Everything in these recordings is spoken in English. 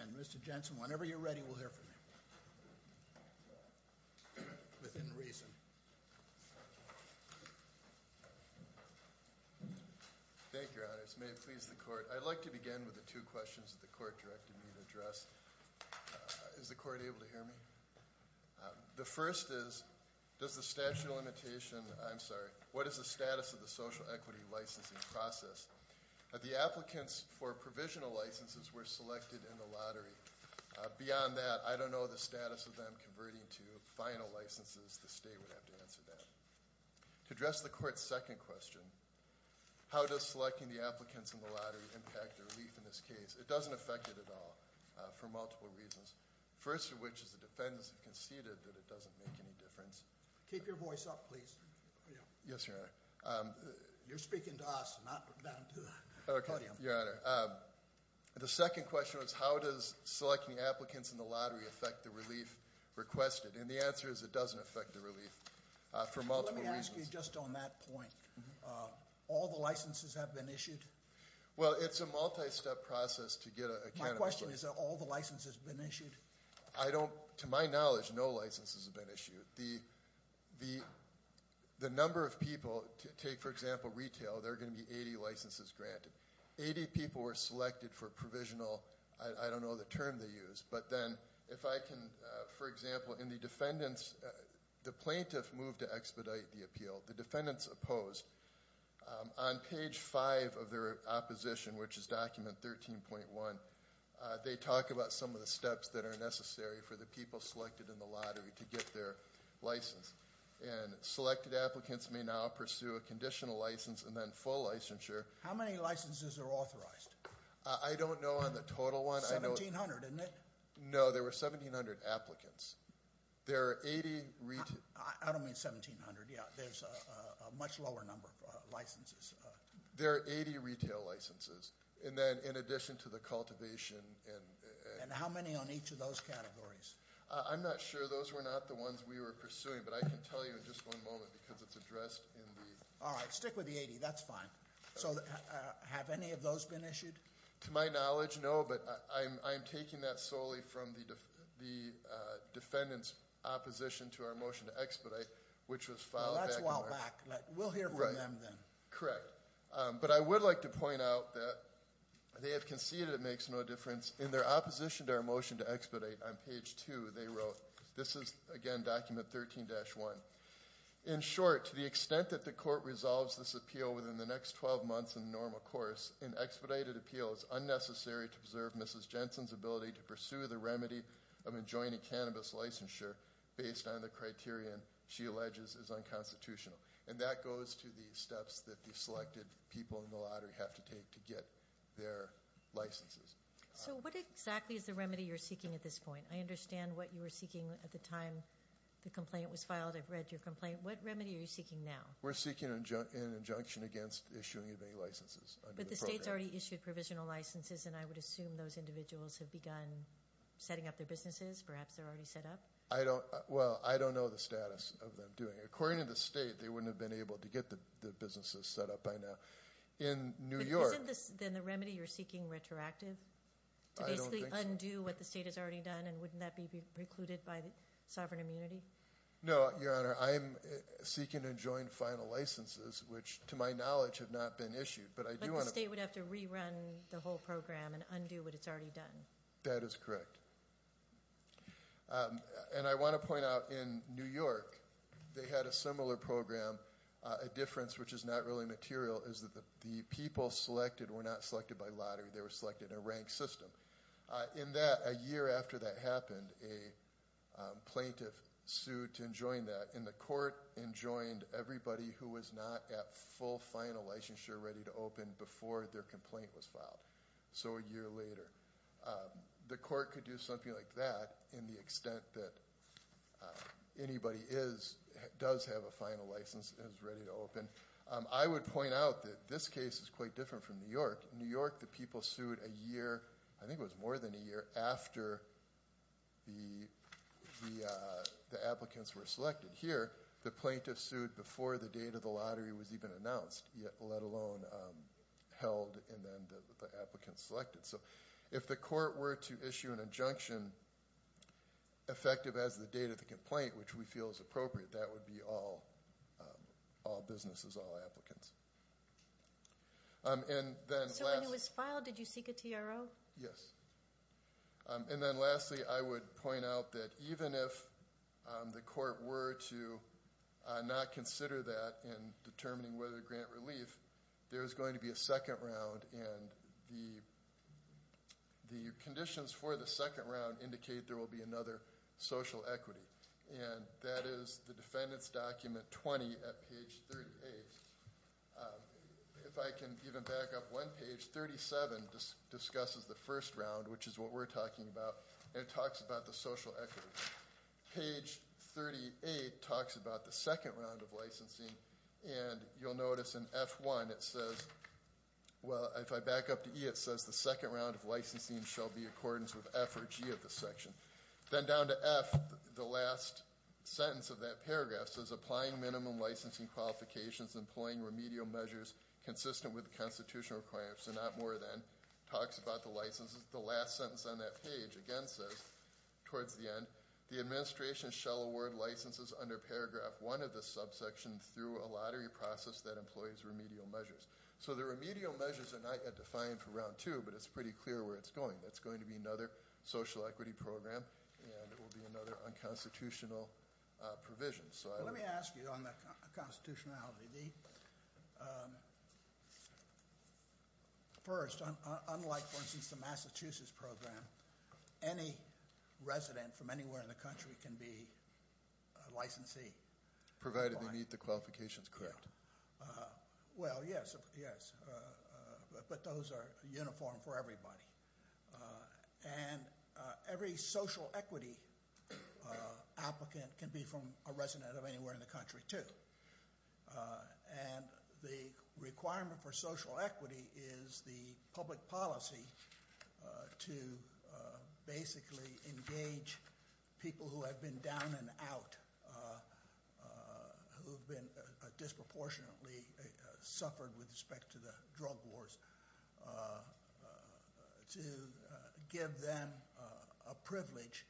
And Mr. Jensen, whenever you're ready, we'll hear from you, within reason. Thank you, Your Honors. May it please the Court. I'd like to begin with the two questions that the Court directed me to address. Is the Court able to hear me? The first is, what is the status of the social equity licensing process? The applicants for provisional licenses were selected in the lottery. Beyond that, I don't know the status of them converting to final licenses. The State would have to answer that. To address the Court's second question, how does selecting the applicants in the lottery impact relief in this case? It doesn't affect it at all, for multiple reasons. First of which is the defendants have conceded that it doesn't make any difference. Keep your voice up, please. Yes, Your Honor. You're speaking to us, not down to the podium. Okay, Your Honor. The second question was, how does selecting applicants in the lottery affect the relief requested? And the answer is, it doesn't affect the relief, for multiple reasons. Let me ask you just on that point. All the licenses have been issued? Well, it's a multi-step process to get a candidate. My question is, have all the licenses been issued? I don't, to my knowledge, no licenses have been issued. The number of people, take for example retail, there are going to be 80 licenses granted. 80 people were selected for provisional, I don't know the term they use. But then, if I can, for example, in the defendants, the plaintiff moved to expedite the appeal. The defendants opposed. On page 5 of their opposition, which is document 13.1, they talk about some of the steps that are necessary for the people selected in the lottery to get their license. And selected applicants may now pursue a conditional license and then full licensure. How many licenses are authorized? I don't know on the total one. 1,700, isn't it? No, there were 1,700 applicants. There are 80- I don't mean 1,700, yeah. There's a much lower number of licenses. There are 80 retail licenses. And then in addition to the cultivation and- And how many on each of those categories? I'm not sure. Those were not the ones we were pursuing. But I can tell you in just one moment because it's addressed in the- All right, stick with the 80. That's fine. So have any of those been issued? To my knowledge, no. But I'm taking that solely from the defendant's opposition to our motion to expedite, which was filed back in- That's a while back. We'll hear from them then. Correct. But I would like to point out that they have conceded it makes no difference. In their opposition to our motion to expedite, on page 2, they wrote- This is, again, document 13-1. In short, to the extent that the court resolves this appeal within the next 12 months in the normal course, an expedited appeal is unnecessary to preserve Mrs. Jensen's ability to pursue the remedy of enjoining cannabis licensure based on the criterion she alleges is unconstitutional. And that goes to the steps that the selected people in the lottery have to take to get their licenses. So what exactly is the remedy you're seeking at this point? I understand what you were seeking at the time the complaint was filed. I've read your complaint. What remedy are you seeking now? We're seeking an injunction against issuing of any licenses under the program. But the state's already issued provisional licenses, and I would assume those individuals have begun setting up their businesses. Perhaps they're already set up. Well, I don't know the status of them doing it. According to the state, they wouldn't have been able to get the businesses set up by now. In New York- But isn't this then the remedy you're seeking retroactive? I don't think so. To basically undo what the state has already done, and wouldn't that be precluded by sovereign immunity? No, Your Honor. I'm seeking to join final licenses, which to my knowledge have not been issued. But I do want to- But the state would have to rerun the whole program and undo what it's already done. That is correct. And I want to point out in New York, they had a similar program. A difference which is not really material is that the people selected were not selected by lottery. They were selected in a ranked system. In that, a year after that happened, a plaintiff sued to enjoin that, and the court enjoined everybody who was not at full final licensure ready to open before their complaint was filed. So a year later. The court could do something like that in the extent that anybody does have a final license and is ready to open. I would point out that this case is quite different from New York. In New York, the people sued a year, I think it was more than a year, after the applicants were selected. Here, the plaintiff sued before the date of the lottery was even announced, let alone held and then the applicants selected. So if the court were to issue an injunction effective as the date of the complaint, which we feel is appropriate, that would be all businesses, all applicants. So when it was filed, did you seek a TRO? Yes. And then lastly, I would point out that even if the court were to not consider that in determining whether to grant relief, there is going to be a second round, and the conditions for the second round indicate there will be another social equity. And that is the defendant's document 20 at page 38. If I can even back up one page, 37 discusses the first round, which is what we're talking about, and it talks about the social equity. Page 38 talks about the second round of licensing, and you'll notice in F1 it says, well, if I back up to E, it says the second round of licensing shall be in accordance with F or G of the section. Then down to F, the last sentence of that paragraph says applying minimum licensing qualifications, employing remedial measures consistent with the constitutional requirements, so not more than, talks about the licenses, the last sentence on that page again says, towards the end, the administration shall award licenses under paragraph one of the subsection through a lottery process that employs remedial measures. So the remedial measures are not yet defined for round two, but it's pretty clear where it's going. It's going to be another social equity program, and it will be another unconstitutional provision. Let me ask you on the constitutionality. First, unlike, for instance, the Massachusetts program, any resident from anywhere in the country can be a licensee. Provided they meet the qualifications, correct. Well, yes, yes, but those are uniform for everybody. And every social equity applicant can be from a resident of anywhere in the country, too. And the requirement for social equity is the public policy to basically engage people who have been down and out, who have been disproportionately suffered with respect to the drug wars, to give them a privilege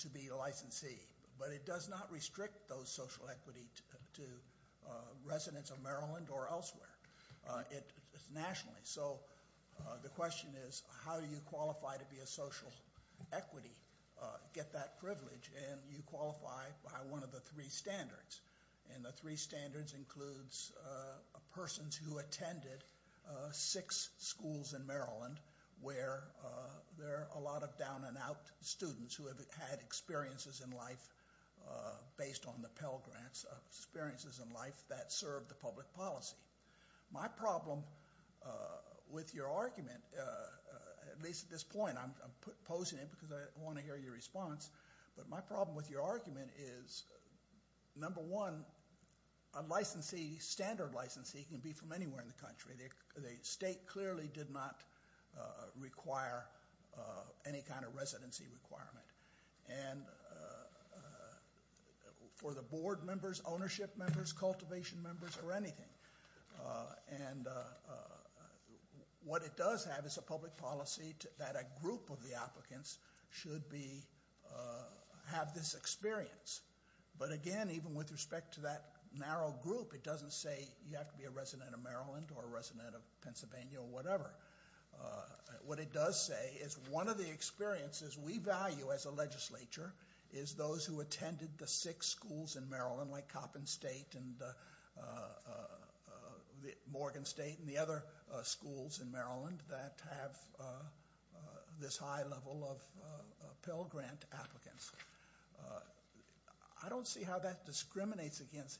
to be a licensee. But it does not restrict those social equity to residents of Maryland or elsewhere. It's nationally, so the question is, how do you qualify to be a social equity, get that privilege, and you qualify by one of the three standards. And the three standards includes persons who attended six schools in Maryland where there are a lot of down and out students who have had experiences in life based on the Pell Grants, experiences in life that serve the public policy. My problem with your argument, at least at this point, I'm posing it because I want to hear your response, but my problem with your argument is, number one, a standard licensee can be from anywhere in the country. The state clearly did not require any kind of residency requirement. And for the board members, ownership members, cultivation members, or anything. And what it does have is a public policy that a group of the applicants should have this experience. But again, even with respect to that narrow group, it doesn't say you have to be a resident of Maryland or a resident of Pennsylvania or whatever. What it does say is one of the experiences we value as a legislature is those who attended the six schools in Maryland, like Coppin State and Morgan State and the other schools in Maryland that have this high level of Pell Grant applicants. I don't see how that discriminates against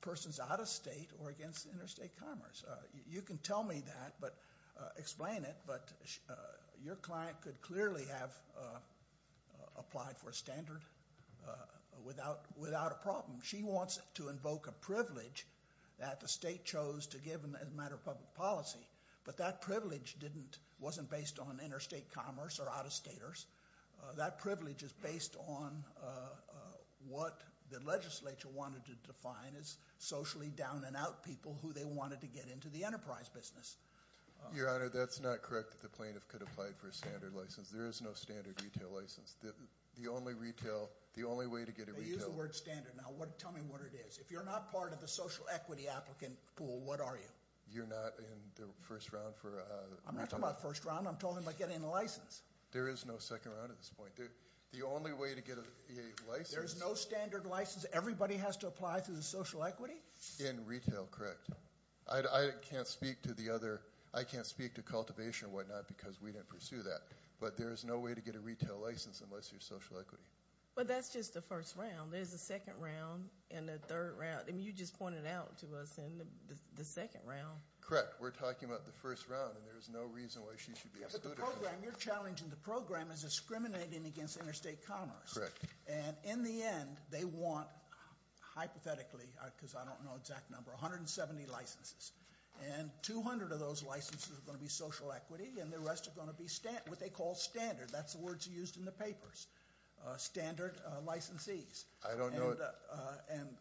persons out of state or against interstate commerce. You can tell me that, explain it, but your client could clearly have applied for a standard without a problem. She wants to invoke a privilege that the state chose to give as a matter of public policy, but that privilege wasn't based on interstate commerce or out-of-staters. That privilege is based on what the legislature wanted to define as socially down and out people who they wanted to get into the enterprise business. Your Honor, that's not correct that the plaintiff could apply for a standard license. There is no standard retail license. The only way to get a retail- They use the word standard. Now, tell me what it is. If you're not part of the social equity applicant pool, what are you? You're not in the first round for- I'm not talking about first round. I'm talking about getting a license. There is no second round at this point. The only way to get a license- There's no standard license. Everybody has to apply through the social equity? In retail, correct. I can't speak to cultivation or whatnot because we didn't pursue that, but there is no way to get a retail license unless you're social equity. But that's just the first round. There's a second round and a third round. I mean, you just pointed out to us in the second round. Correct. We're talking about the first round, and there's no reason why she should be excluded from that. But the program, your challenge in the program is discriminating against interstate commerce. And in the end, they want, hypothetically, because I don't know the exact number, 170 licenses. And 200 of those licenses are going to be social equity, and the rest are going to be what they call standard. That's the words used in the papers, standard licensees. I don't know- And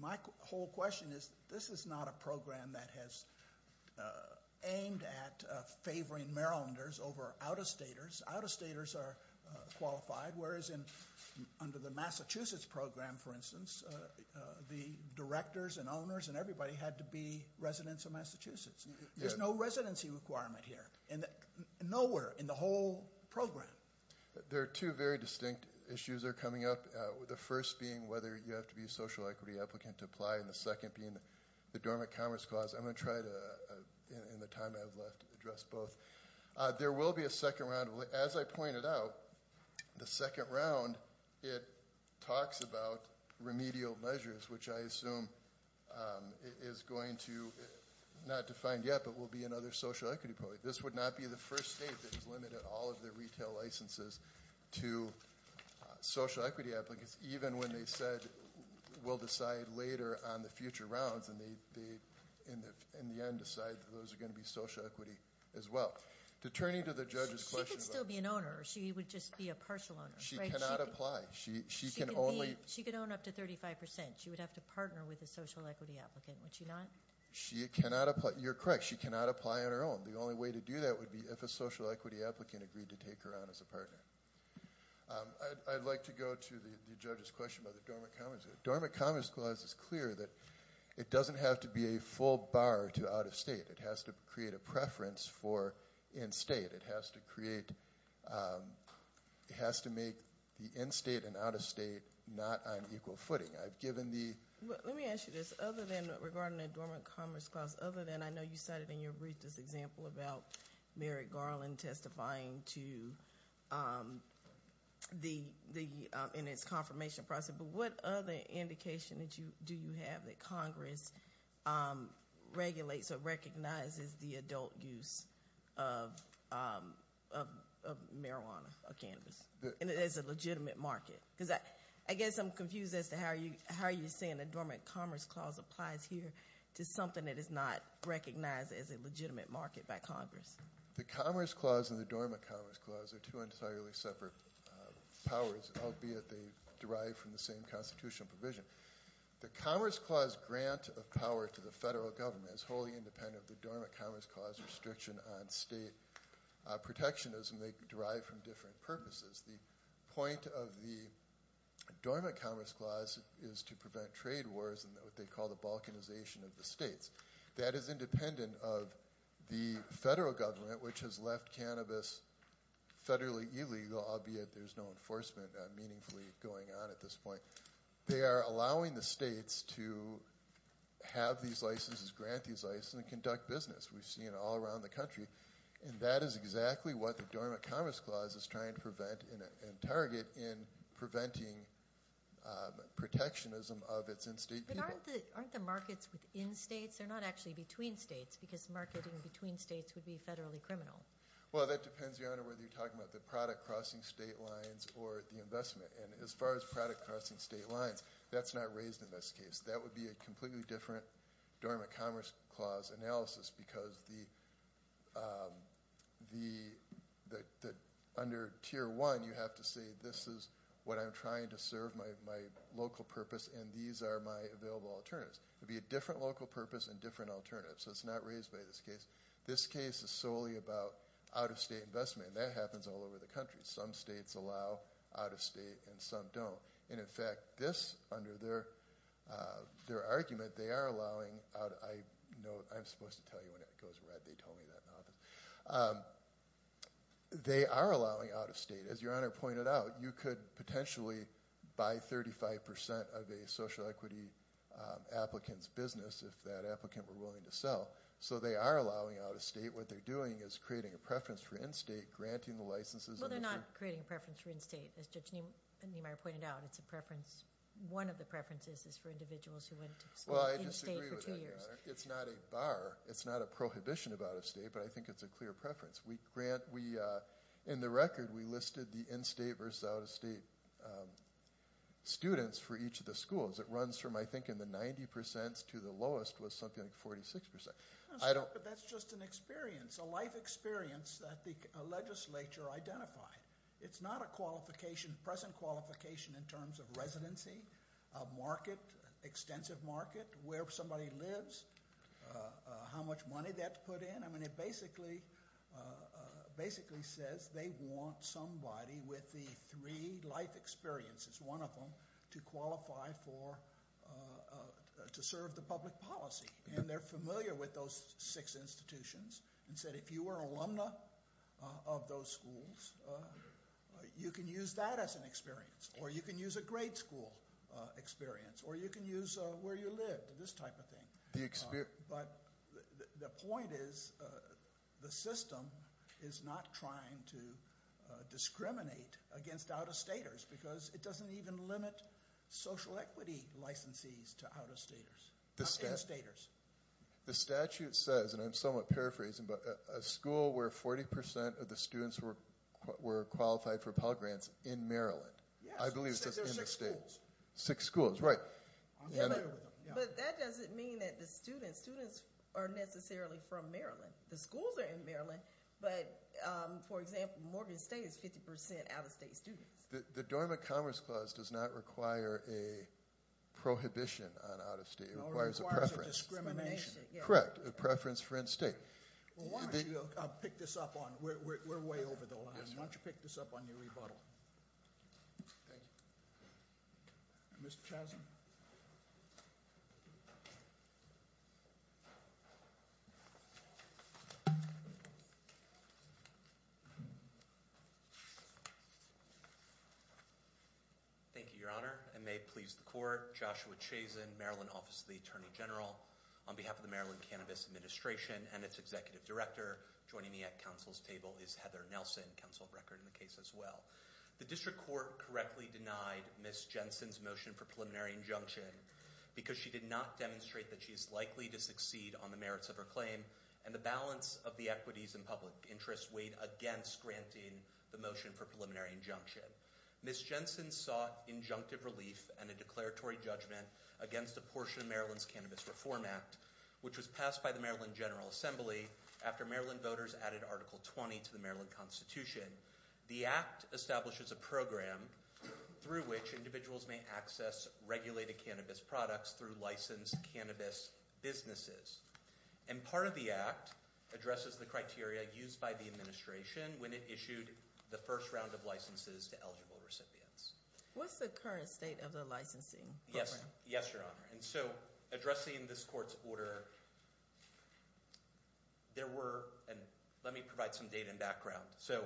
my whole question is this is not a program that has aimed at favoring Marylanders over out-of-staters. Out-of-staters are qualified, whereas under the Massachusetts program, for instance, the directors and owners and everybody had to be residents of Massachusetts. There's no residency requirement here, nowhere in the whole program. There are two very distinct issues that are coming up, the first being whether you have to be a social equity applicant to apply, and the second being the Dormant Commerce Clause. I'm going to try to, in the time I have left, address both. There will be a second round. As I pointed out, the second round, it talks about remedial measures, which I assume is going to, not defined yet, but will be another social equity program. This would not be the first state that has limited all of their retail licenses to social equity applicants, even when they said we'll decide later on the future rounds, and they, in the end, decide that those are going to be social equity as well. To turn you to the judge's question- She could still be an owner. She would just be a partial owner, right? She cannot apply. She can only- She could own up to 35%. She would have to partner with a social equity applicant, would she not? She cannot apply. You're correct. She cannot apply on her own. The only way to do that would be if a social equity applicant agreed to take her on as a partner. I'd like to go to the judge's question about the Dormant Commerce Clause. The Dormant Commerce Clause is clear that it doesn't have to be a full bar to out-of-state. It has to create a preference for in-state. It has to create-it has to make the in-state and out-of-state not on equal footing. I've given the- Let me ask you this. Other than-regarding the Dormant Commerce Clause, other than-I know you cited in your brief this example about Mary Garland testifying to the- in its confirmation process. But what other indication do you have that Congress regulates or recognizes the adult use of marijuana or cannabis as a legitimate market? I guess I'm confused as to how you're saying the Dormant Commerce Clause applies here to something that is not recognized as a legitimate market by Congress. The Commerce Clause and the Dormant Commerce Clause are two entirely separate powers, albeit they derive from the same constitutional provision. The Commerce Clause grant of power to the federal government is wholly independent of the Dormant Commerce Clause restriction on state protectionism. They derive from different purposes. The point of the Dormant Commerce Clause is to prevent trade wars and what they call the balkanization of the states. That is independent of the federal government, which has left cannabis federally illegal, albeit there's no enforcement meaningfully going on at this point. They are allowing the states to have these licenses, grant these licenses, and conduct business. We've seen it all around the country. And that is exactly what the Dormant Commerce Clause is trying to prevent and target in preventing protectionism of its in-state people. But aren't the markets within states? They're not actually between states because marketing between states would be federally criminal. Well, that depends, Your Honor, whether you're talking about the product crossing state lines or the investment. And as far as product crossing state lines, that's not raised in this case. That would be a completely different Dormant Commerce Clause analysis because under Tier 1, you have to say, this is what I'm trying to serve my local purpose, and these are my available alternatives. It would be a different local purpose and different alternatives. So it's not raised by this case. This case is solely about out-of-state investment, and that happens all over the country. Some states allow out-of-state, and some don't. And, in fact, this, under their argument, they are allowing out-of-state. I know I'm supposed to tell you when it goes red. They told me that in office. They are allowing out-of-state. As Your Honor pointed out, you could potentially buy 35% of a social equity applicant's business if that applicant were willing to sell. So they are allowing out-of-state. What they're doing is creating a preference for in-state, granting the licenses. Well, they're not creating a preference for in-state. As Judge Niemeyer pointed out, it's a preference. One of the preferences is for individuals who went to school in-state for two years. It's not a bar. It's not a prohibition of out-of-state, but I think it's a clear preference. In the record, we listed the in-state versus out-of-state students for each of the schools. It runs from, I think, in the 90% to the lowest was something like 46%. But that's just an experience, a life experience that the legislature identified. It's not a qualification, present qualification in terms of residency, market, extensive market, where somebody lives, how much money that's put in. I mean it basically says they want somebody with the three life experiences, one of them, to qualify for, to serve the public policy. And they're familiar with those six institutions and said if you were an alumna of those schools, you can use that as an experience. Or you can use a grade school experience. Or you can use where you lived, this type of thing. But the point is the system is not trying to discriminate against out-of-staters because it doesn't even limit social equity licensees to out-of-staters. The statute says, and I'm somewhat paraphrasing, but a school where 40% of the students were qualified for Pell Grants in Maryland. I believe it says in the state. Six schools, right. But that doesn't mean that the students are necessarily from Maryland. The schools are in Maryland, but for example, Morgan State is 50% out-of-state students. The Dormant Commerce Clause does not require a prohibition on out-of-state. It requires a preference. No, it requires a discrimination. Correct. A preference for in-state. Well, why don't you pick this up on, we're way over the line. Why don't you pick this up on your rebuttal. Thank you. Mr. Chasm. Thank you, Your Honor. I may please the Court. Joshua Chasen, Maryland Office of the Attorney General. On behalf of the Maryland Cannabis Administration and its Executive Director, joining me at Council's table is Heather Nelson, Counsel of Record in the case as well. The District Court correctly denied Ms. Jensen's motion for preliminary injunction because she did not demonstrate that she is likely to succeed on the merits of her claim. And the balance of the equities and public interest weighed against granting the motion for preliminary injunction. Ms. Jensen sought injunctive relief and a declaratory judgment against a portion of Maryland's Cannabis Reform Act, which was passed by the Maryland General Assembly after Maryland voters added Article 20 to the Maryland Constitution. The Act establishes a program through which individuals may access regulated cannabis products through licensed cannabis businesses. And part of the Act addresses the criteria used by the Administration when it issued the first round of licenses to eligible recipients. What's the current state of the licensing program? Yes, Your Honor. And so, addressing this Court's order, there were, and let me provide some data and background. So,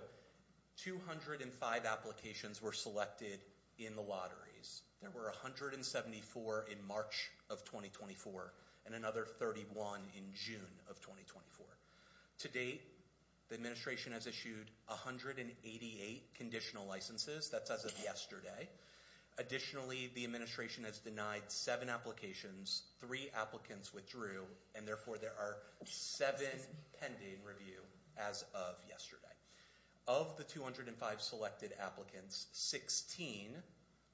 205 applications were selected in the lotteries. There were 174 in March of 2024 and another 31 in June of 2024. To date, the Administration has issued 188 conditional licenses. That's as of yesterday. Additionally, the Administration has denied 7 applications, 3 applicants withdrew, and therefore there are 7 pending review as of yesterday. Of the 205 selected applicants, 16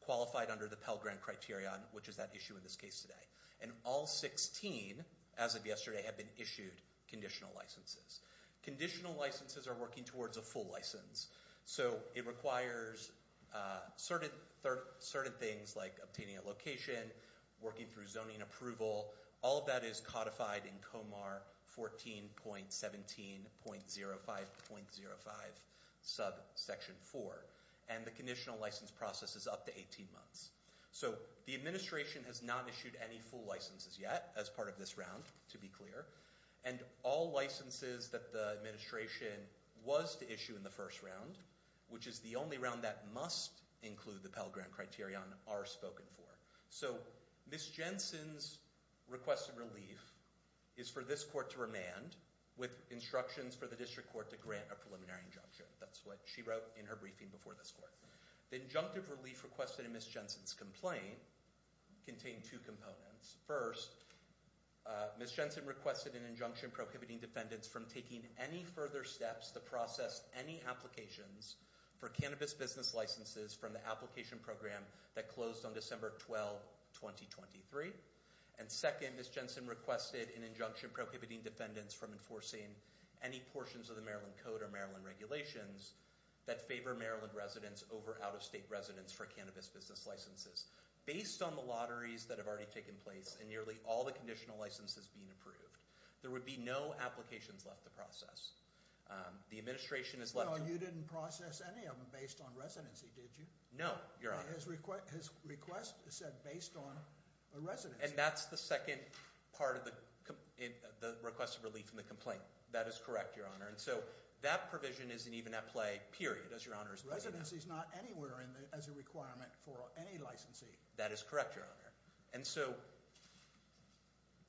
qualified under the Pell Grant Criterion, which is at issue in this case today. And all 16, as of yesterday, have been issued conditional licenses. Conditional licenses are working towards a full license. So, it requires certain things like obtaining a location, working through zoning approval. All of that is codified in Comar 14.17.05.05 subsection 4. And the conditional license process is up to 18 months. So, the Administration has not issued any full licenses yet as part of this round, to be clear. And all licenses that the Administration was to issue in the first round, which is the only round that must include the Pell Grant Criterion, are spoken for. So, Ms. Jensen's request of relief is for this Court to remand with instructions for the District Court to grant a preliminary injunction. That's what she wrote in her briefing before this Court. The injunctive relief requested in Ms. Jensen's complaint contained two components. First, Ms. Jensen requested an injunction prohibiting defendants from taking any further steps to process any applications for cannabis business licenses from the application program that closed on December 12, 2023. And second, Ms. Jensen requested an injunction prohibiting defendants from enforcing any portions of the Maryland Code or Maryland regulations that favor Maryland residents over out-of-state residents for cannabis business licenses. Based on the lotteries that have already taken place and nearly all the conditional licenses being approved, there would be no applications left to process. The Administration has left... No, you didn't process any of them based on residency, did you? No, Your Honor. His request said based on a residency. And that's the second part of the request of relief in the complaint. That is correct, Your Honor. And so, that provision isn't even at play, period, as Your Honor is pointing out. Residency is not anywhere as a requirement for any licensee. That is correct, Your Honor. And so,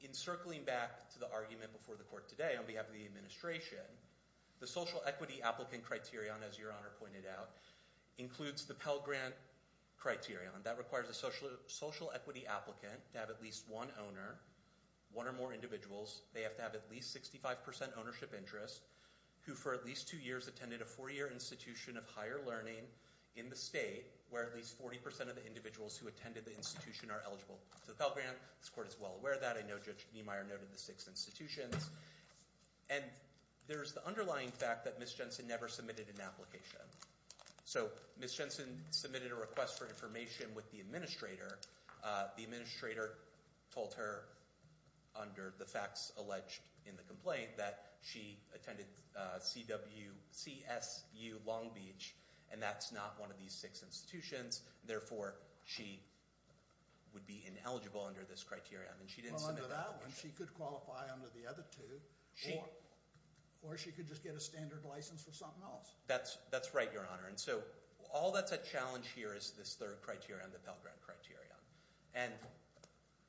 encircling back to the argument before the Court today on behalf of the Administration, the Social Equity Applicant Criterion, as Your Honor pointed out, includes the Pell Grant Criterion. That requires a Social Equity Applicant to have at least one owner, one or more individuals. They have to have at least 65% ownership interest, who for at least two years attended a four-year institution of higher learning in the state where at least 40% of the individuals who attended the institution are eligible for the Pell Grant. This Court is well aware of that. I know Judge Niemeyer noted the six institutions. And there's the underlying fact that Ms. Jensen never submitted an application. So, Ms. Jensen submitted a request for information with the Administrator. The Administrator told her under the facts alleged in the complaint that she attended CWCSU Long Beach, and that's not one of these six institutions. Therefore, she would be ineligible under this criterion. And she didn't submit that application. Well, under that one, she could qualify under the other two. Or she could just get a standard license for something else. That's right, Your Honor. And so, all that's a challenge here is this third criterion, the Pell Grant criterion. And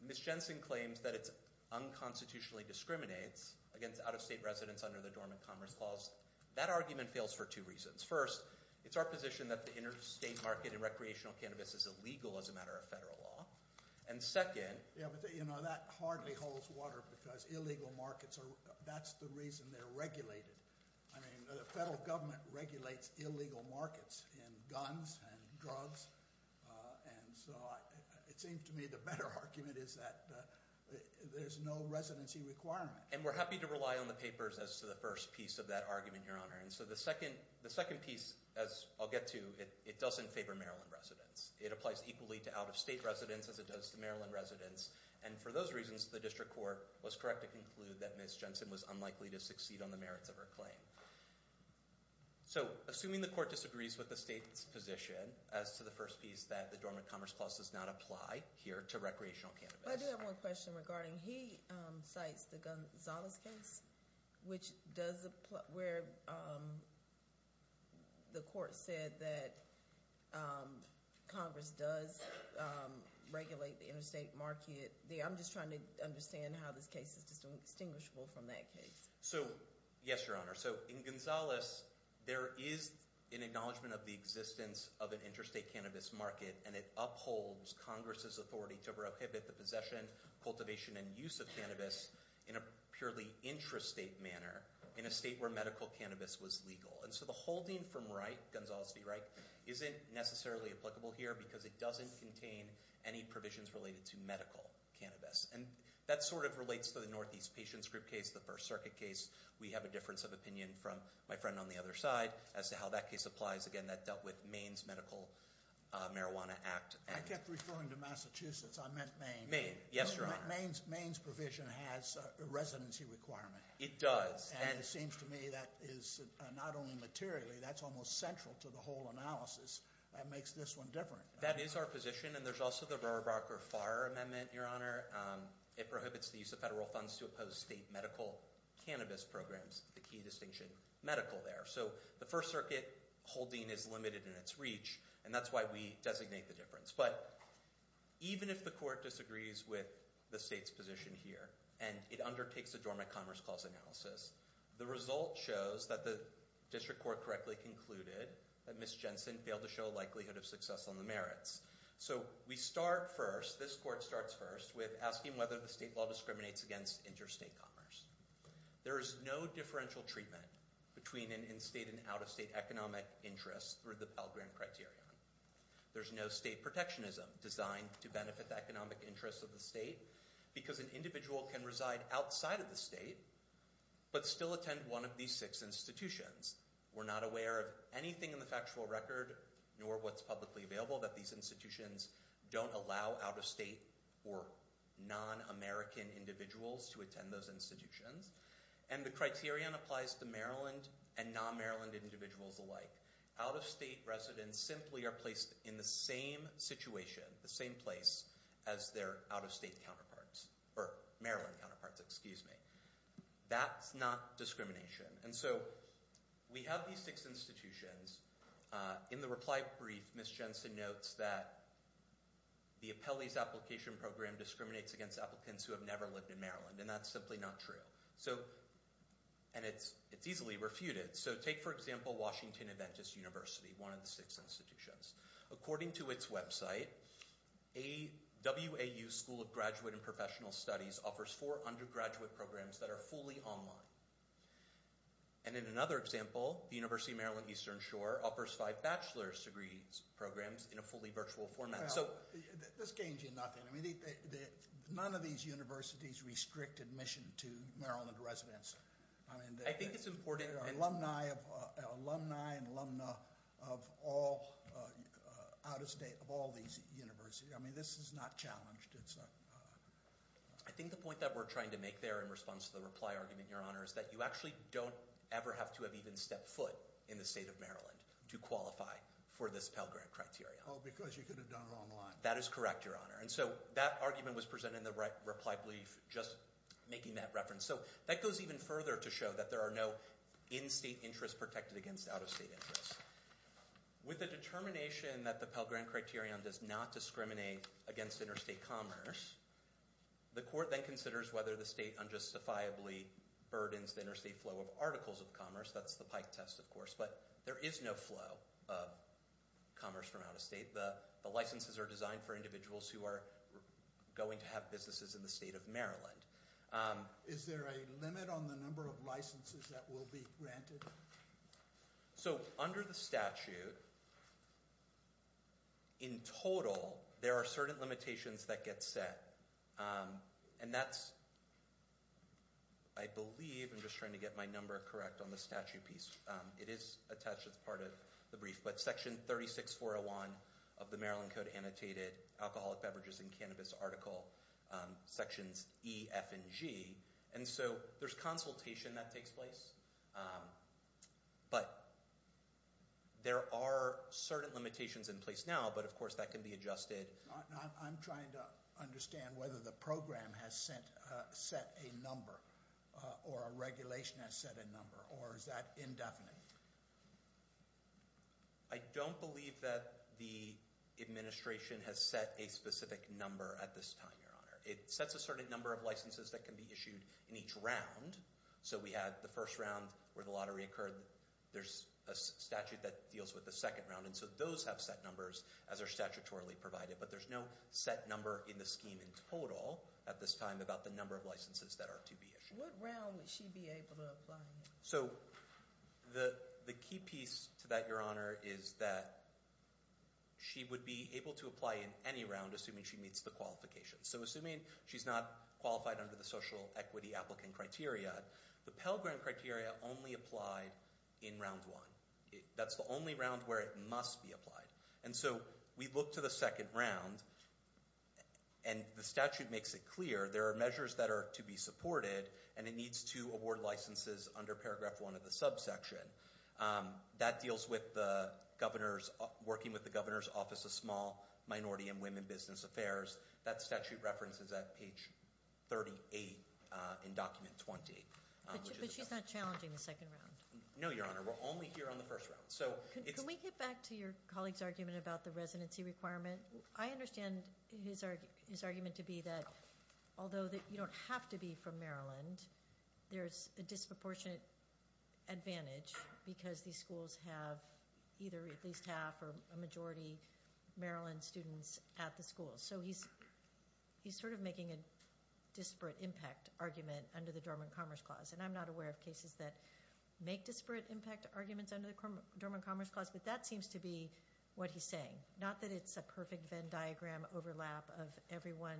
Ms. Jensen claims that it unconstitutionally discriminates against out-of-state residents under the Dormant Commerce Clause. That argument fails for two reasons. First, it's our position that the interstate market in recreational cannabis is illegal as a matter of federal law. And second – Yeah, but that hardly holds water because illegal markets are – that's the reason they're regulated. I mean the federal government regulates illegal markets in guns and drugs. And so it seems to me the better argument is that there's no residency requirement. And we're happy to rely on the papers as to the first piece of that argument, Your Honor. And so the second piece, as I'll get to, it doesn't favor Maryland residents. It applies equally to out-of-state residents as it does to Maryland residents. And for those reasons, the district court was correct to conclude that Ms. Jensen was unlikely to succeed on the merits of her claim. So, assuming the court disagrees with the state's position as to the first piece that the Dormant Commerce Clause does not apply here to recreational cannabis. I do have one question regarding – he cites the Gonzalez case, which does – where the court said that Congress does regulate the interstate market. I'm just trying to understand how this case is distinguishable from that case. So, yes, Your Honor. So, in Gonzalez, there is an acknowledgment of the existence of an interstate cannabis market. And it upholds Congress's authority to prohibit the possession, cultivation, and use of cannabis in a purely intrastate manner in a state where medical cannabis was legal. And so the holding from Wright, Gonzalez v. Wright, isn't necessarily applicable here because it doesn't contain any provisions related to medical cannabis. And that sort of relates to the Northeast Patients Group case, the First Circuit case. We have a difference of opinion from my friend on the other side as to how that case applies. Again, that dealt with Maine's Medical Marijuana Act. I kept referring to Massachusetts. I meant Maine. Maine. Yes, Your Honor. Maine's provision has a residency requirement. It does. And it seems to me that is not only materially, that's almost central to the whole analysis that makes this one different. That is our position. And there's also the Rohrabacher-Farr Amendment, Your Honor. It prohibits the use of federal funds to oppose state medical cannabis programs, the key distinction medical there. So the First Circuit holding is limited in its reach, and that's why we designate the difference. But even if the court disagrees with the state's position here and it undertakes a Dormant Commerce Clause analysis, the result shows that the district court correctly concluded that Ms. Jensen failed to show a likelihood of success on the merits. So we start first, this court starts first, with asking whether the state law discriminates against interstate commerce. There is no differential treatment between an in-state and out-of-state economic interest through the Pell Grant Criterion. There's no state protectionism designed to benefit the economic interests of the state because an individual can reside outside of the state but still attend one of these six institutions. We're not aware of anything in the factual record, nor what's publicly available, that these institutions don't allow out-of-state or non-American individuals to attend those institutions. And the criterion applies to Maryland and non-Maryland individuals alike. Out-of-state residents simply are placed in the same situation, the same place, as their out-of-state counterparts. Or Maryland counterparts, excuse me. That's not discrimination. And so we have these six institutions. In the reply brief, Ms. Jensen notes that the Appellees Application Program discriminates against applicants who have never lived in Maryland. And that's simply not true. And it's easily refuted. So take, for example, Washington Adventist University, one of the six institutions. According to its website, WAU School of Graduate and Professional Studies offers four undergraduate programs that are fully online. And in another example, the University of Maryland Eastern Shore offers five bachelor's degree programs in a fully virtual format. This gains you nothing. None of these universities restrict admission to Maryland residents. I think it's important. There are alumni and alumna of all out-of-state, of all these universities. I mean, this is not challenged. I think the point that we're trying to make there in response to the reply argument, Your Honor, is that you actually don't ever have to have even stepped foot in the state of Maryland to qualify for this Pell Grant Criterion. Oh, because you could have done it online. That is correct, Your Honor. And so that argument was presented in the reply brief just making that reference. So that goes even further to show that there are no in-state interests protected against out-of-state interests. With the determination that the Pell Grant Criterion does not discriminate against interstate commerce, the court then considers whether the state unjustifiably burdens the interstate flow of articles of commerce. That's the Pike test, of course. But there is no flow of commerce from out-of-state. The licenses are designed for individuals who are going to have businesses in the state of Maryland. Is there a limit on the number of licenses that will be granted? So under the statute, in total, there are certain limitations that get set, and that's – I believe – I'm just trying to get my number correct on the statute piece. It is attached as part of the brief, but Section 36401 of the Maryland Code Annotated Alcoholic Beverages and Cannabis Article, Sections E, F, and G. And so there's consultation that takes place, but there are certain limitations in place now, but, of course, that can be adjusted. I'm trying to understand whether the program has set a number or a regulation has set a number, or is that indefinite? I don't believe that the administration has set a specific number at this time, Your Honor. It sets a certain number of licenses that can be issued in each round. So we had the first round where the lottery occurred. There's a statute that deals with the second round, and so those have set numbers as are statutorily provided, but there's no set number in the scheme in total at this time about the number of licenses that are to be issued. What round would she be able to apply in? So the key piece to that, Your Honor, is that she would be able to apply in any round, assuming she meets the qualifications. So assuming she's not qualified under the Social Equity Applicant Criteria, the Pell Grant Criteria only applied in round one. That's the only round where it must be applied. And so we look to the second round, and the statute makes it clear there are measures that are to be supported, and it needs to award licenses under Paragraph 1 of the subsection. That deals with working with the Governor's Office of Small, Minority, and Women Business Affairs. That statute references that page 38 in Document 20. But she's not challenging the second round? No, Your Honor. We're only here on the first round. Can we get back to your colleague's argument about the residency requirement? I understand his argument to be that although you don't have to be from Maryland, there's a disproportionate advantage because these schools have either at least half or a majority Maryland students at the school. So he's sort of making a disparate impact argument under the Dormant Commerce Clause, and I'm not aware of cases that make disparate impact arguments under the Dormant Commerce Clause, but that seems to be what he's saying. Not that it's a perfect Venn diagram overlap of everyone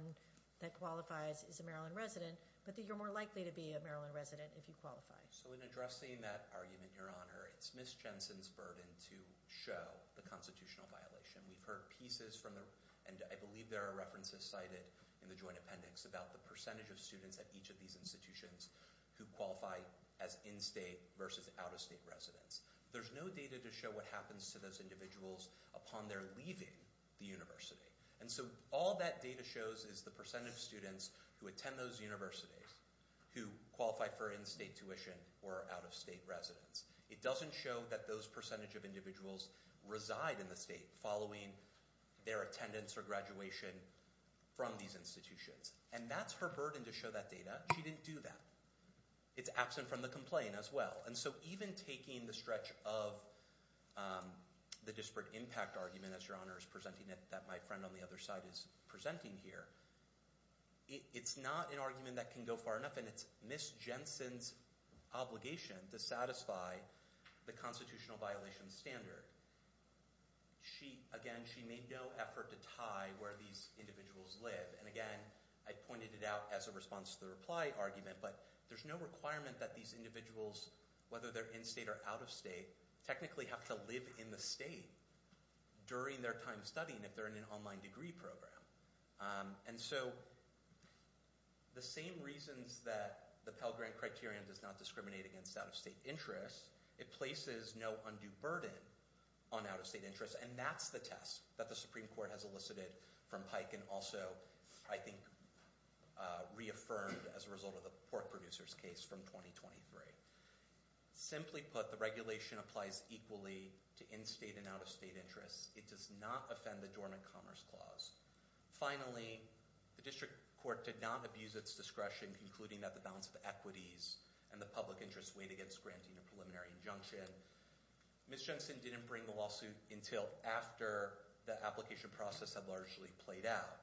that qualifies is a Maryland resident, but that you're more likely to be a Maryland resident if you qualify. So in addressing that argument, Your Honor, it's Ms. Jensen's burden to show the constitutional violation. We've heard pieces from the—and I believe there are references cited in the Joint Appendix about the percentage of students at each of these institutions who qualify as in-state versus out-of-state residents. There's no data to show what happens to those individuals upon their leaving the university. And so all that data shows is the percentage of students who attend those universities who qualify for in-state tuition or are out-of-state residents. It doesn't show that those percentage of individuals reside in the state following their attendance or graduation from these institutions. And that's her burden to show that data. She didn't do that. It's absent from the complaint as well. And so even taking the stretch of the disparate impact argument, as Your Honor is presenting it, that my friend on the other side is presenting here, it's not an argument that can go far enough. And it's Ms. Jensen's obligation to satisfy the constitutional violation standard. Again, she made no effort to tie where these individuals live. And again, I pointed it out as a response to the reply argument, but there's no requirement that these individuals, whether they're in-state or out-of-state, technically have to live in the state during their time studying if they're in an online degree program. And so the same reasons that the Pell Grant Criterion does not discriminate against out-of-state interests, it places no undue burden on out-of-state interests. And that's the test that the Supreme Court has elicited from Pike and also, I think, reaffirmed as a result of the pork producers case from 2023. Simply put, the regulation applies equally to in-state and out-of-state interests. It does not offend the Dormant Commerce Clause. Finally, the District Court did not abuse its discretion, concluding that the balance of equities and the public interest weighed against granting a preliminary injunction. Ms. Jensen didn't bring the lawsuit until after the application process had largely played out.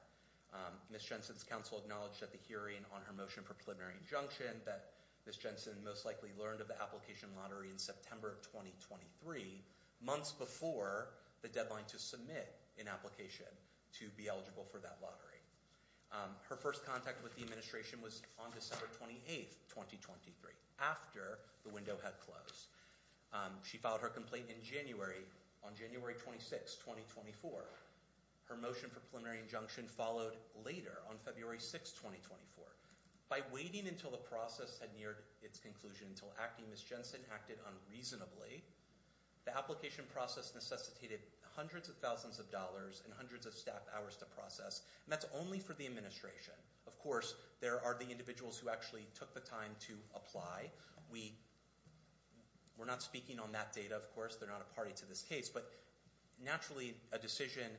Ms. Jensen's counsel acknowledged at the hearing on her motion for preliminary injunction that Ms. Jensen most likely learned of the application lottery in September of 2023, months before the deadline to submit an application to be eligible for that lottery. Her first contact with the administration was on December 28, 2023, after the window had closed. She filed her complaint in January, on January 26, 2024. Her motion for preliminary injunction followed later on February 6, 2024. By waiting until the process had neared its conclusion, until acting, Ms. Jensen acted unreasonably The application process necessitated hundreds of thousands of dollars and hundreds of staff hours to process, and that's only for the administration. Of course, there are the individuals who actually took the time to apply. We're not speaking on that data, of course. They're not a party to this case. But naturally, a decision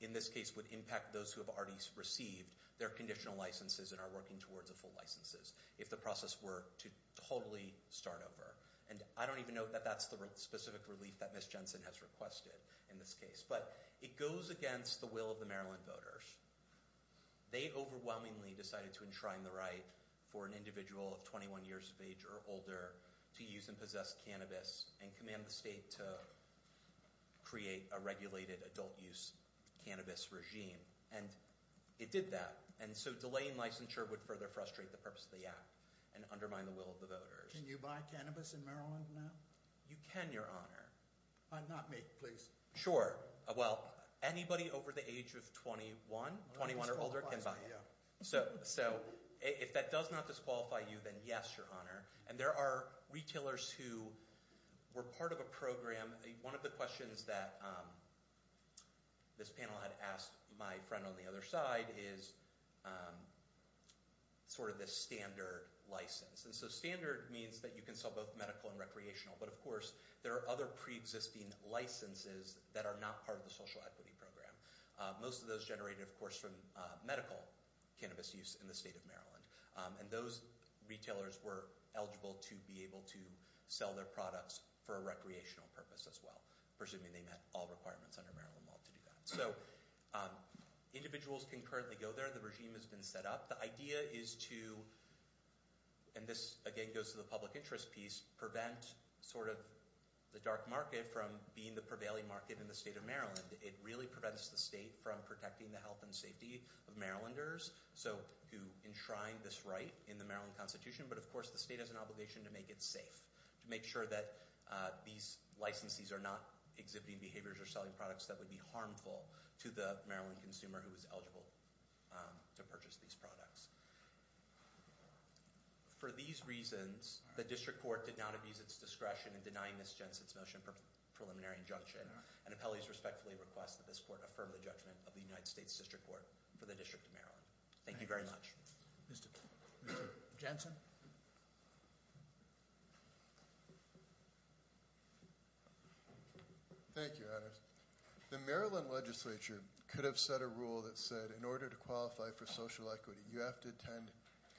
in this case would impact those who have already received their conditional licenses and are working towards the full licenses, if the process were to totally start over. And I don't even know that that's the specific relief that Ms. Jensen has requested in this case. But it goes against the will of the Maryland voters. They overwhelmingly decided to enshrine the right for an individual of 21 years of age or older to use and possess cannabis and command the state to create a regulated adult-use cannabis regime. And it did that, and so delaying licensure would further frustrate the purpose of the act and undermine the will of the voters. Can you buy cannabis in Maryland now? You can, Your Honor. Not me, please. Sure. Well, anybody over the age of 21, 21 or older, can buy it. So if that does not disqualify you, then yes, Your Honor. And there are retailers who were part of a program. One of the questions that this panel had asked my friend on the other side is sort of the standard license. And so standard means that you can sell both medical and recreational. But, of course, there are other preexisting licenses that are not part of the social equity program. Most of those generated, of course, from medical cannabis use in the state of Maryland. And those retailers were eligible to be able to sell their products for a recreational purpose as well, presuming they met all requirements under Maryland law to do that. So individuals can currently go there. The regime has been set up. The idea is to, and this, again, goes to the public interest piece, prevent sort of the dark market from being the prevailing market in the state of Maryland. It really prevents the state from protecting the health and safety of Marylanders who enshrine this right in the Maryland Constitution. But, of course, the state has an obligation to make it safe, to make sure that these licensees are not exhibiting behaviors or selling products that would be harmful to the Maryland consumer who is eligible to purchase these products. For these reasons, the district court did not abuse its discretion in denying Ms. Jensen's motion for preliminary injunction. And appellees respectfully request that this court affirm the judgment of the United States District Court for the District of Maryland. Thank you very much. Mr. Jensen? Thank you, Anders. The Maryland legislature could have set a rule that said in order to qualify for social equity, you have to attend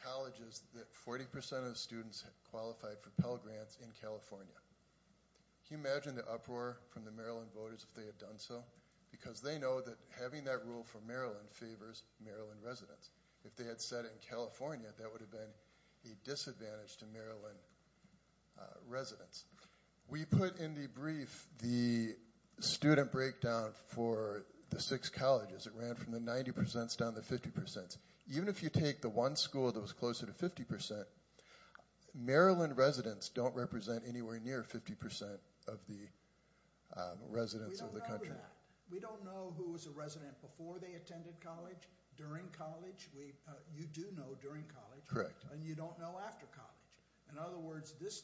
colleges that 40% of students qualified for Pell Grants in California. Can you imagine the uproar from the Maryland voters if they had done so? Because they know that having that rule for Maryland favors Maryland residents. If they had said it in California, that would have been a disadvantage to Maryland residents. We put in the brief the student breakdown for the six colleges. It ran from the 90% down to the 50%. Even if you take the one school that was closer to 50%, Maryland residents don't represent anywhere near 50% of the residents of the country. We don't know that. We don't know who was a resident before they attended college, during college. You do know during college. And you don't know after college. In other words, this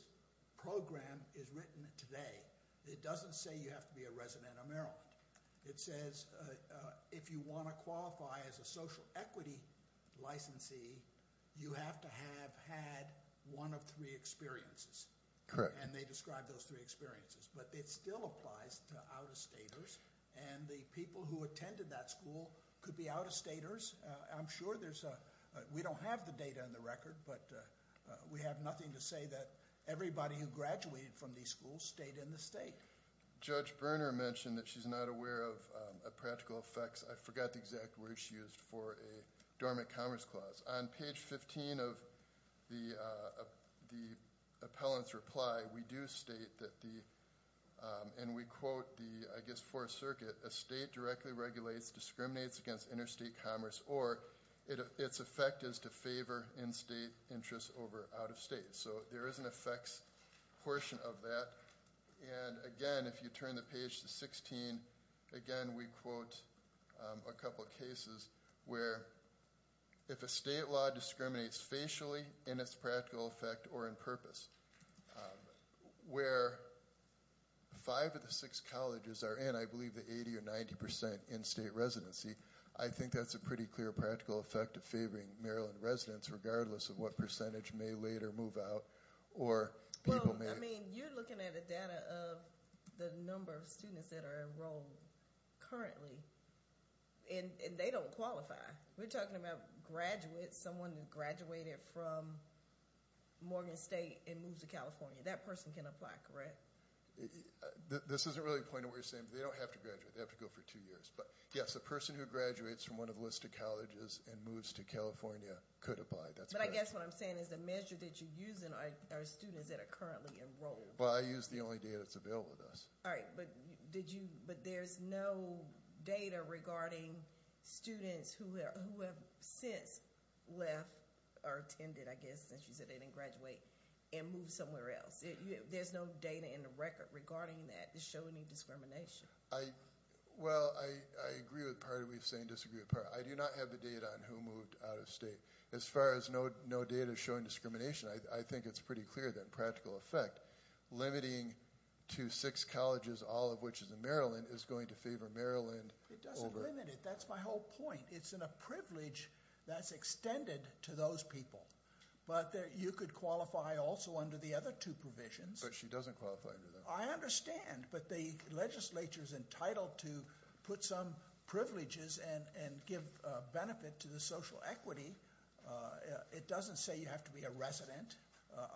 program is written today. It doesn't say you have to be a resident of Maryland. It says if you want to qualify as a social equity licensee, you have to have had one of three experiences. Correct. And they describe those three experiences. But it still applies to out-of-staters. And the people who attended that school could be out-of-staters. I'm sure there's a we don't have the data in the record, but we have nothing to say that everybody who graduated from these schools stayed in the state. Judge Berner mentioned that she's not aware of practical effects. I forgot the exact word she used for a dormant commerce clause. On page 15 of the appellant's reply, we do state that the and we quote the, I guess, interstate commerce or its effect is to favor in-state interests over out-of-state. So there is an effects portion of that. And, again, if you turn the page to 16, again, we quote a couple cases where if a state law discriminates facially in its practical effect or in purpose, where five of the six colleges are in, I believe, the 80 or 90% in-state residency, I think that's a pretty clear practical effect of favoring Maryland residents regardless of what percentage may later move out or people may. Well, I mean, you're looking at the data of the number of students that are enrolled currently. And they don't qualify. We're talking about graduates, someone who graduated from Morgan State and moves to California. That person can apply, correct? This isn't really the point of what you're saying. They don't have to graduate. They have to go for two years. But, yes, a person who graduates from one of the listed colleges and moves to California could apply. But I guess what I'm saying is the measure that you're using are students that are currently enrolled. Well, I use the only data that's available to us. All right, but there's no data regarding students who have since left or attended, I guess, since you said they didn't graduate, and moved somewhere else. There's no data in the record regarding that to show any discrimination. Well, I agree with part of what you're saying and disagree with part of it. I do not have the data on who moved out of state. As far as no data showing discrimination, I think it's pretty clear that in practical effect, limiting to six colleges, all of which is in Maryland, is going to favor Maryland. It doesn't limit it. That's my whole point. It's in a privilege that's extended to those people. But you could qualify also under the other two provisions. But she doesn't qualify under them. I understand. But the legislature is entitled to put some privileges and give benefit to the social equity. It doesn't say you have to be a resident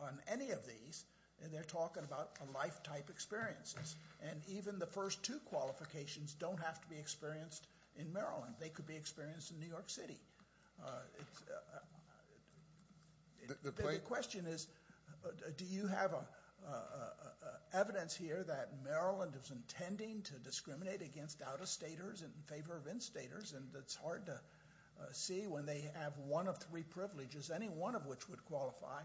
on any of these. And they're talking about a lifetime experiences. And even the first two qualifications don't have to be experienced in Maryland. They could be experienced in New York City. The question is, do you have evidence here that Maryland is intending to discriminate against out-of-staters and in favor of in-staters? And it's hard to see when they have one of three privileges, any one of which would qualify,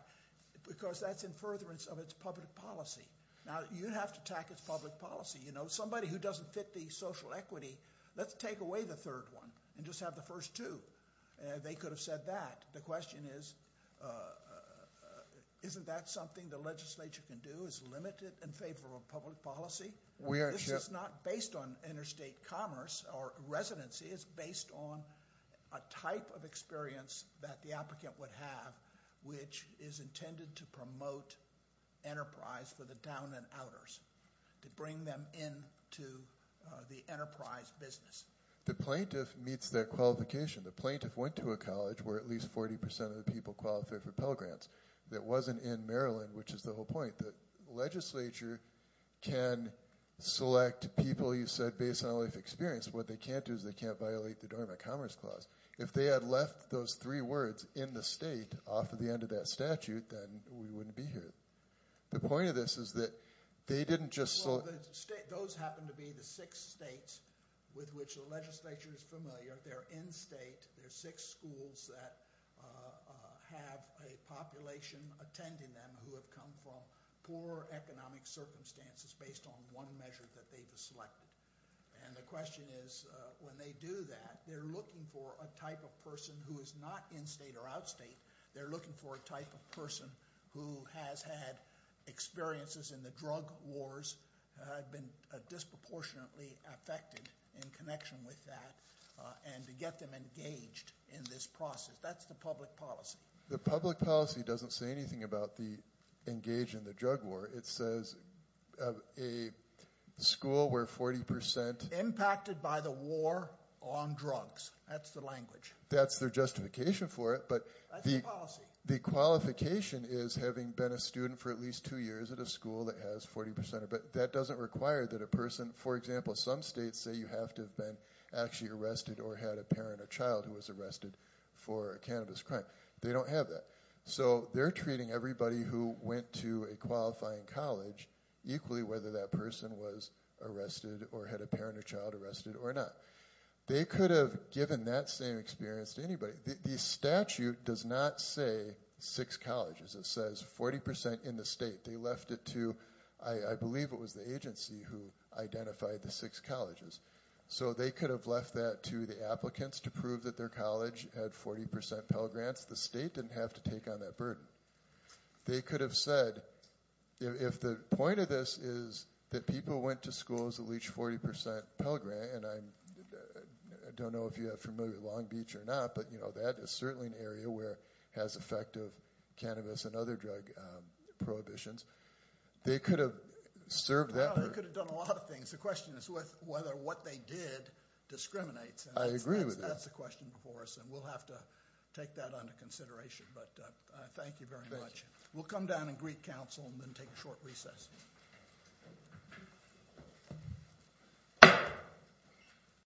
because that's in furtherance of its public policy. Now, you'd have to attack its public policy. You know, somebody who doesn't fit the social equity, let's take away the third one and just have the first two. They could have said that. The question is, isn't that something the legislature can do, is limit it in favor of public policy? This is not based on interstate commerce or residency. It's based on a type of experience that the applicant would have, which is intended to promote enterprise for the down-and-outers, to bring them into the enterprise business. The plaintiff meets their qualification. The plaintiff went to a college where at least 40% of the people qualified for Pell Grants. It wasn't in Maryland, which is the whole point. The legislature can select people, you said, based on a life experience. What they can't do is they can't violate the Dormant Commerce Clause. If they had left those three words in the state off of the end of that statute, then we wouldn't be here. The point of this is that they didn't just select – Well, those happen to be the six states with which the legislature is familiar. They're in state. They're six schools that have a population attending them who have come from poor economic circumstances based on one measure that they've selected. The question is, when they do that, they're looking for a type of person who is not in-state or out-state. They're looking for a type of person who has had experiences in the drug wars, had been disproportionately affected in connection with that, and to get them engaged in this process. That's the public policy. The public policy doesn't say anything about the engage in the drug war. It says a school where 40% – Impacted by the war on drugs. That's the language. That's their justification for it. That's the policy. The qualification is having been a student for at least two years at a school that has 40%. But that doesn't require that a person – For example, some states say you have to have been actually arrested or had a parent or child who was arrested for a cannabis crime. They don't have that. So they're treating everybody who went to a qualifying college equally, whether that person was arrested or had a parent or child arrested or not. They could have given that same experience to anybody. The statute does not say six colleges. It says 40% in the state. They left it to – I believe it was the agency who identified the six colleges. So they could have left that to the applicants to prove that their college had 40% Pell Grants. The state didn't have to take on that burden. They could have said – If the point of this is that people went to schools that leached 40% Pell Grant, and I don't know if you're familiar with Long Beach or not, but that is certainly an area where it has effective cannabis and other drug prohibitions. They could have served that burden. They could have done a lot of things. The question is whether what they did discriminates. I agree with that. That's the question before us, and we'll have to take that under consideration. But thank you very much. We'll come down and greet counsel and then take a short recess.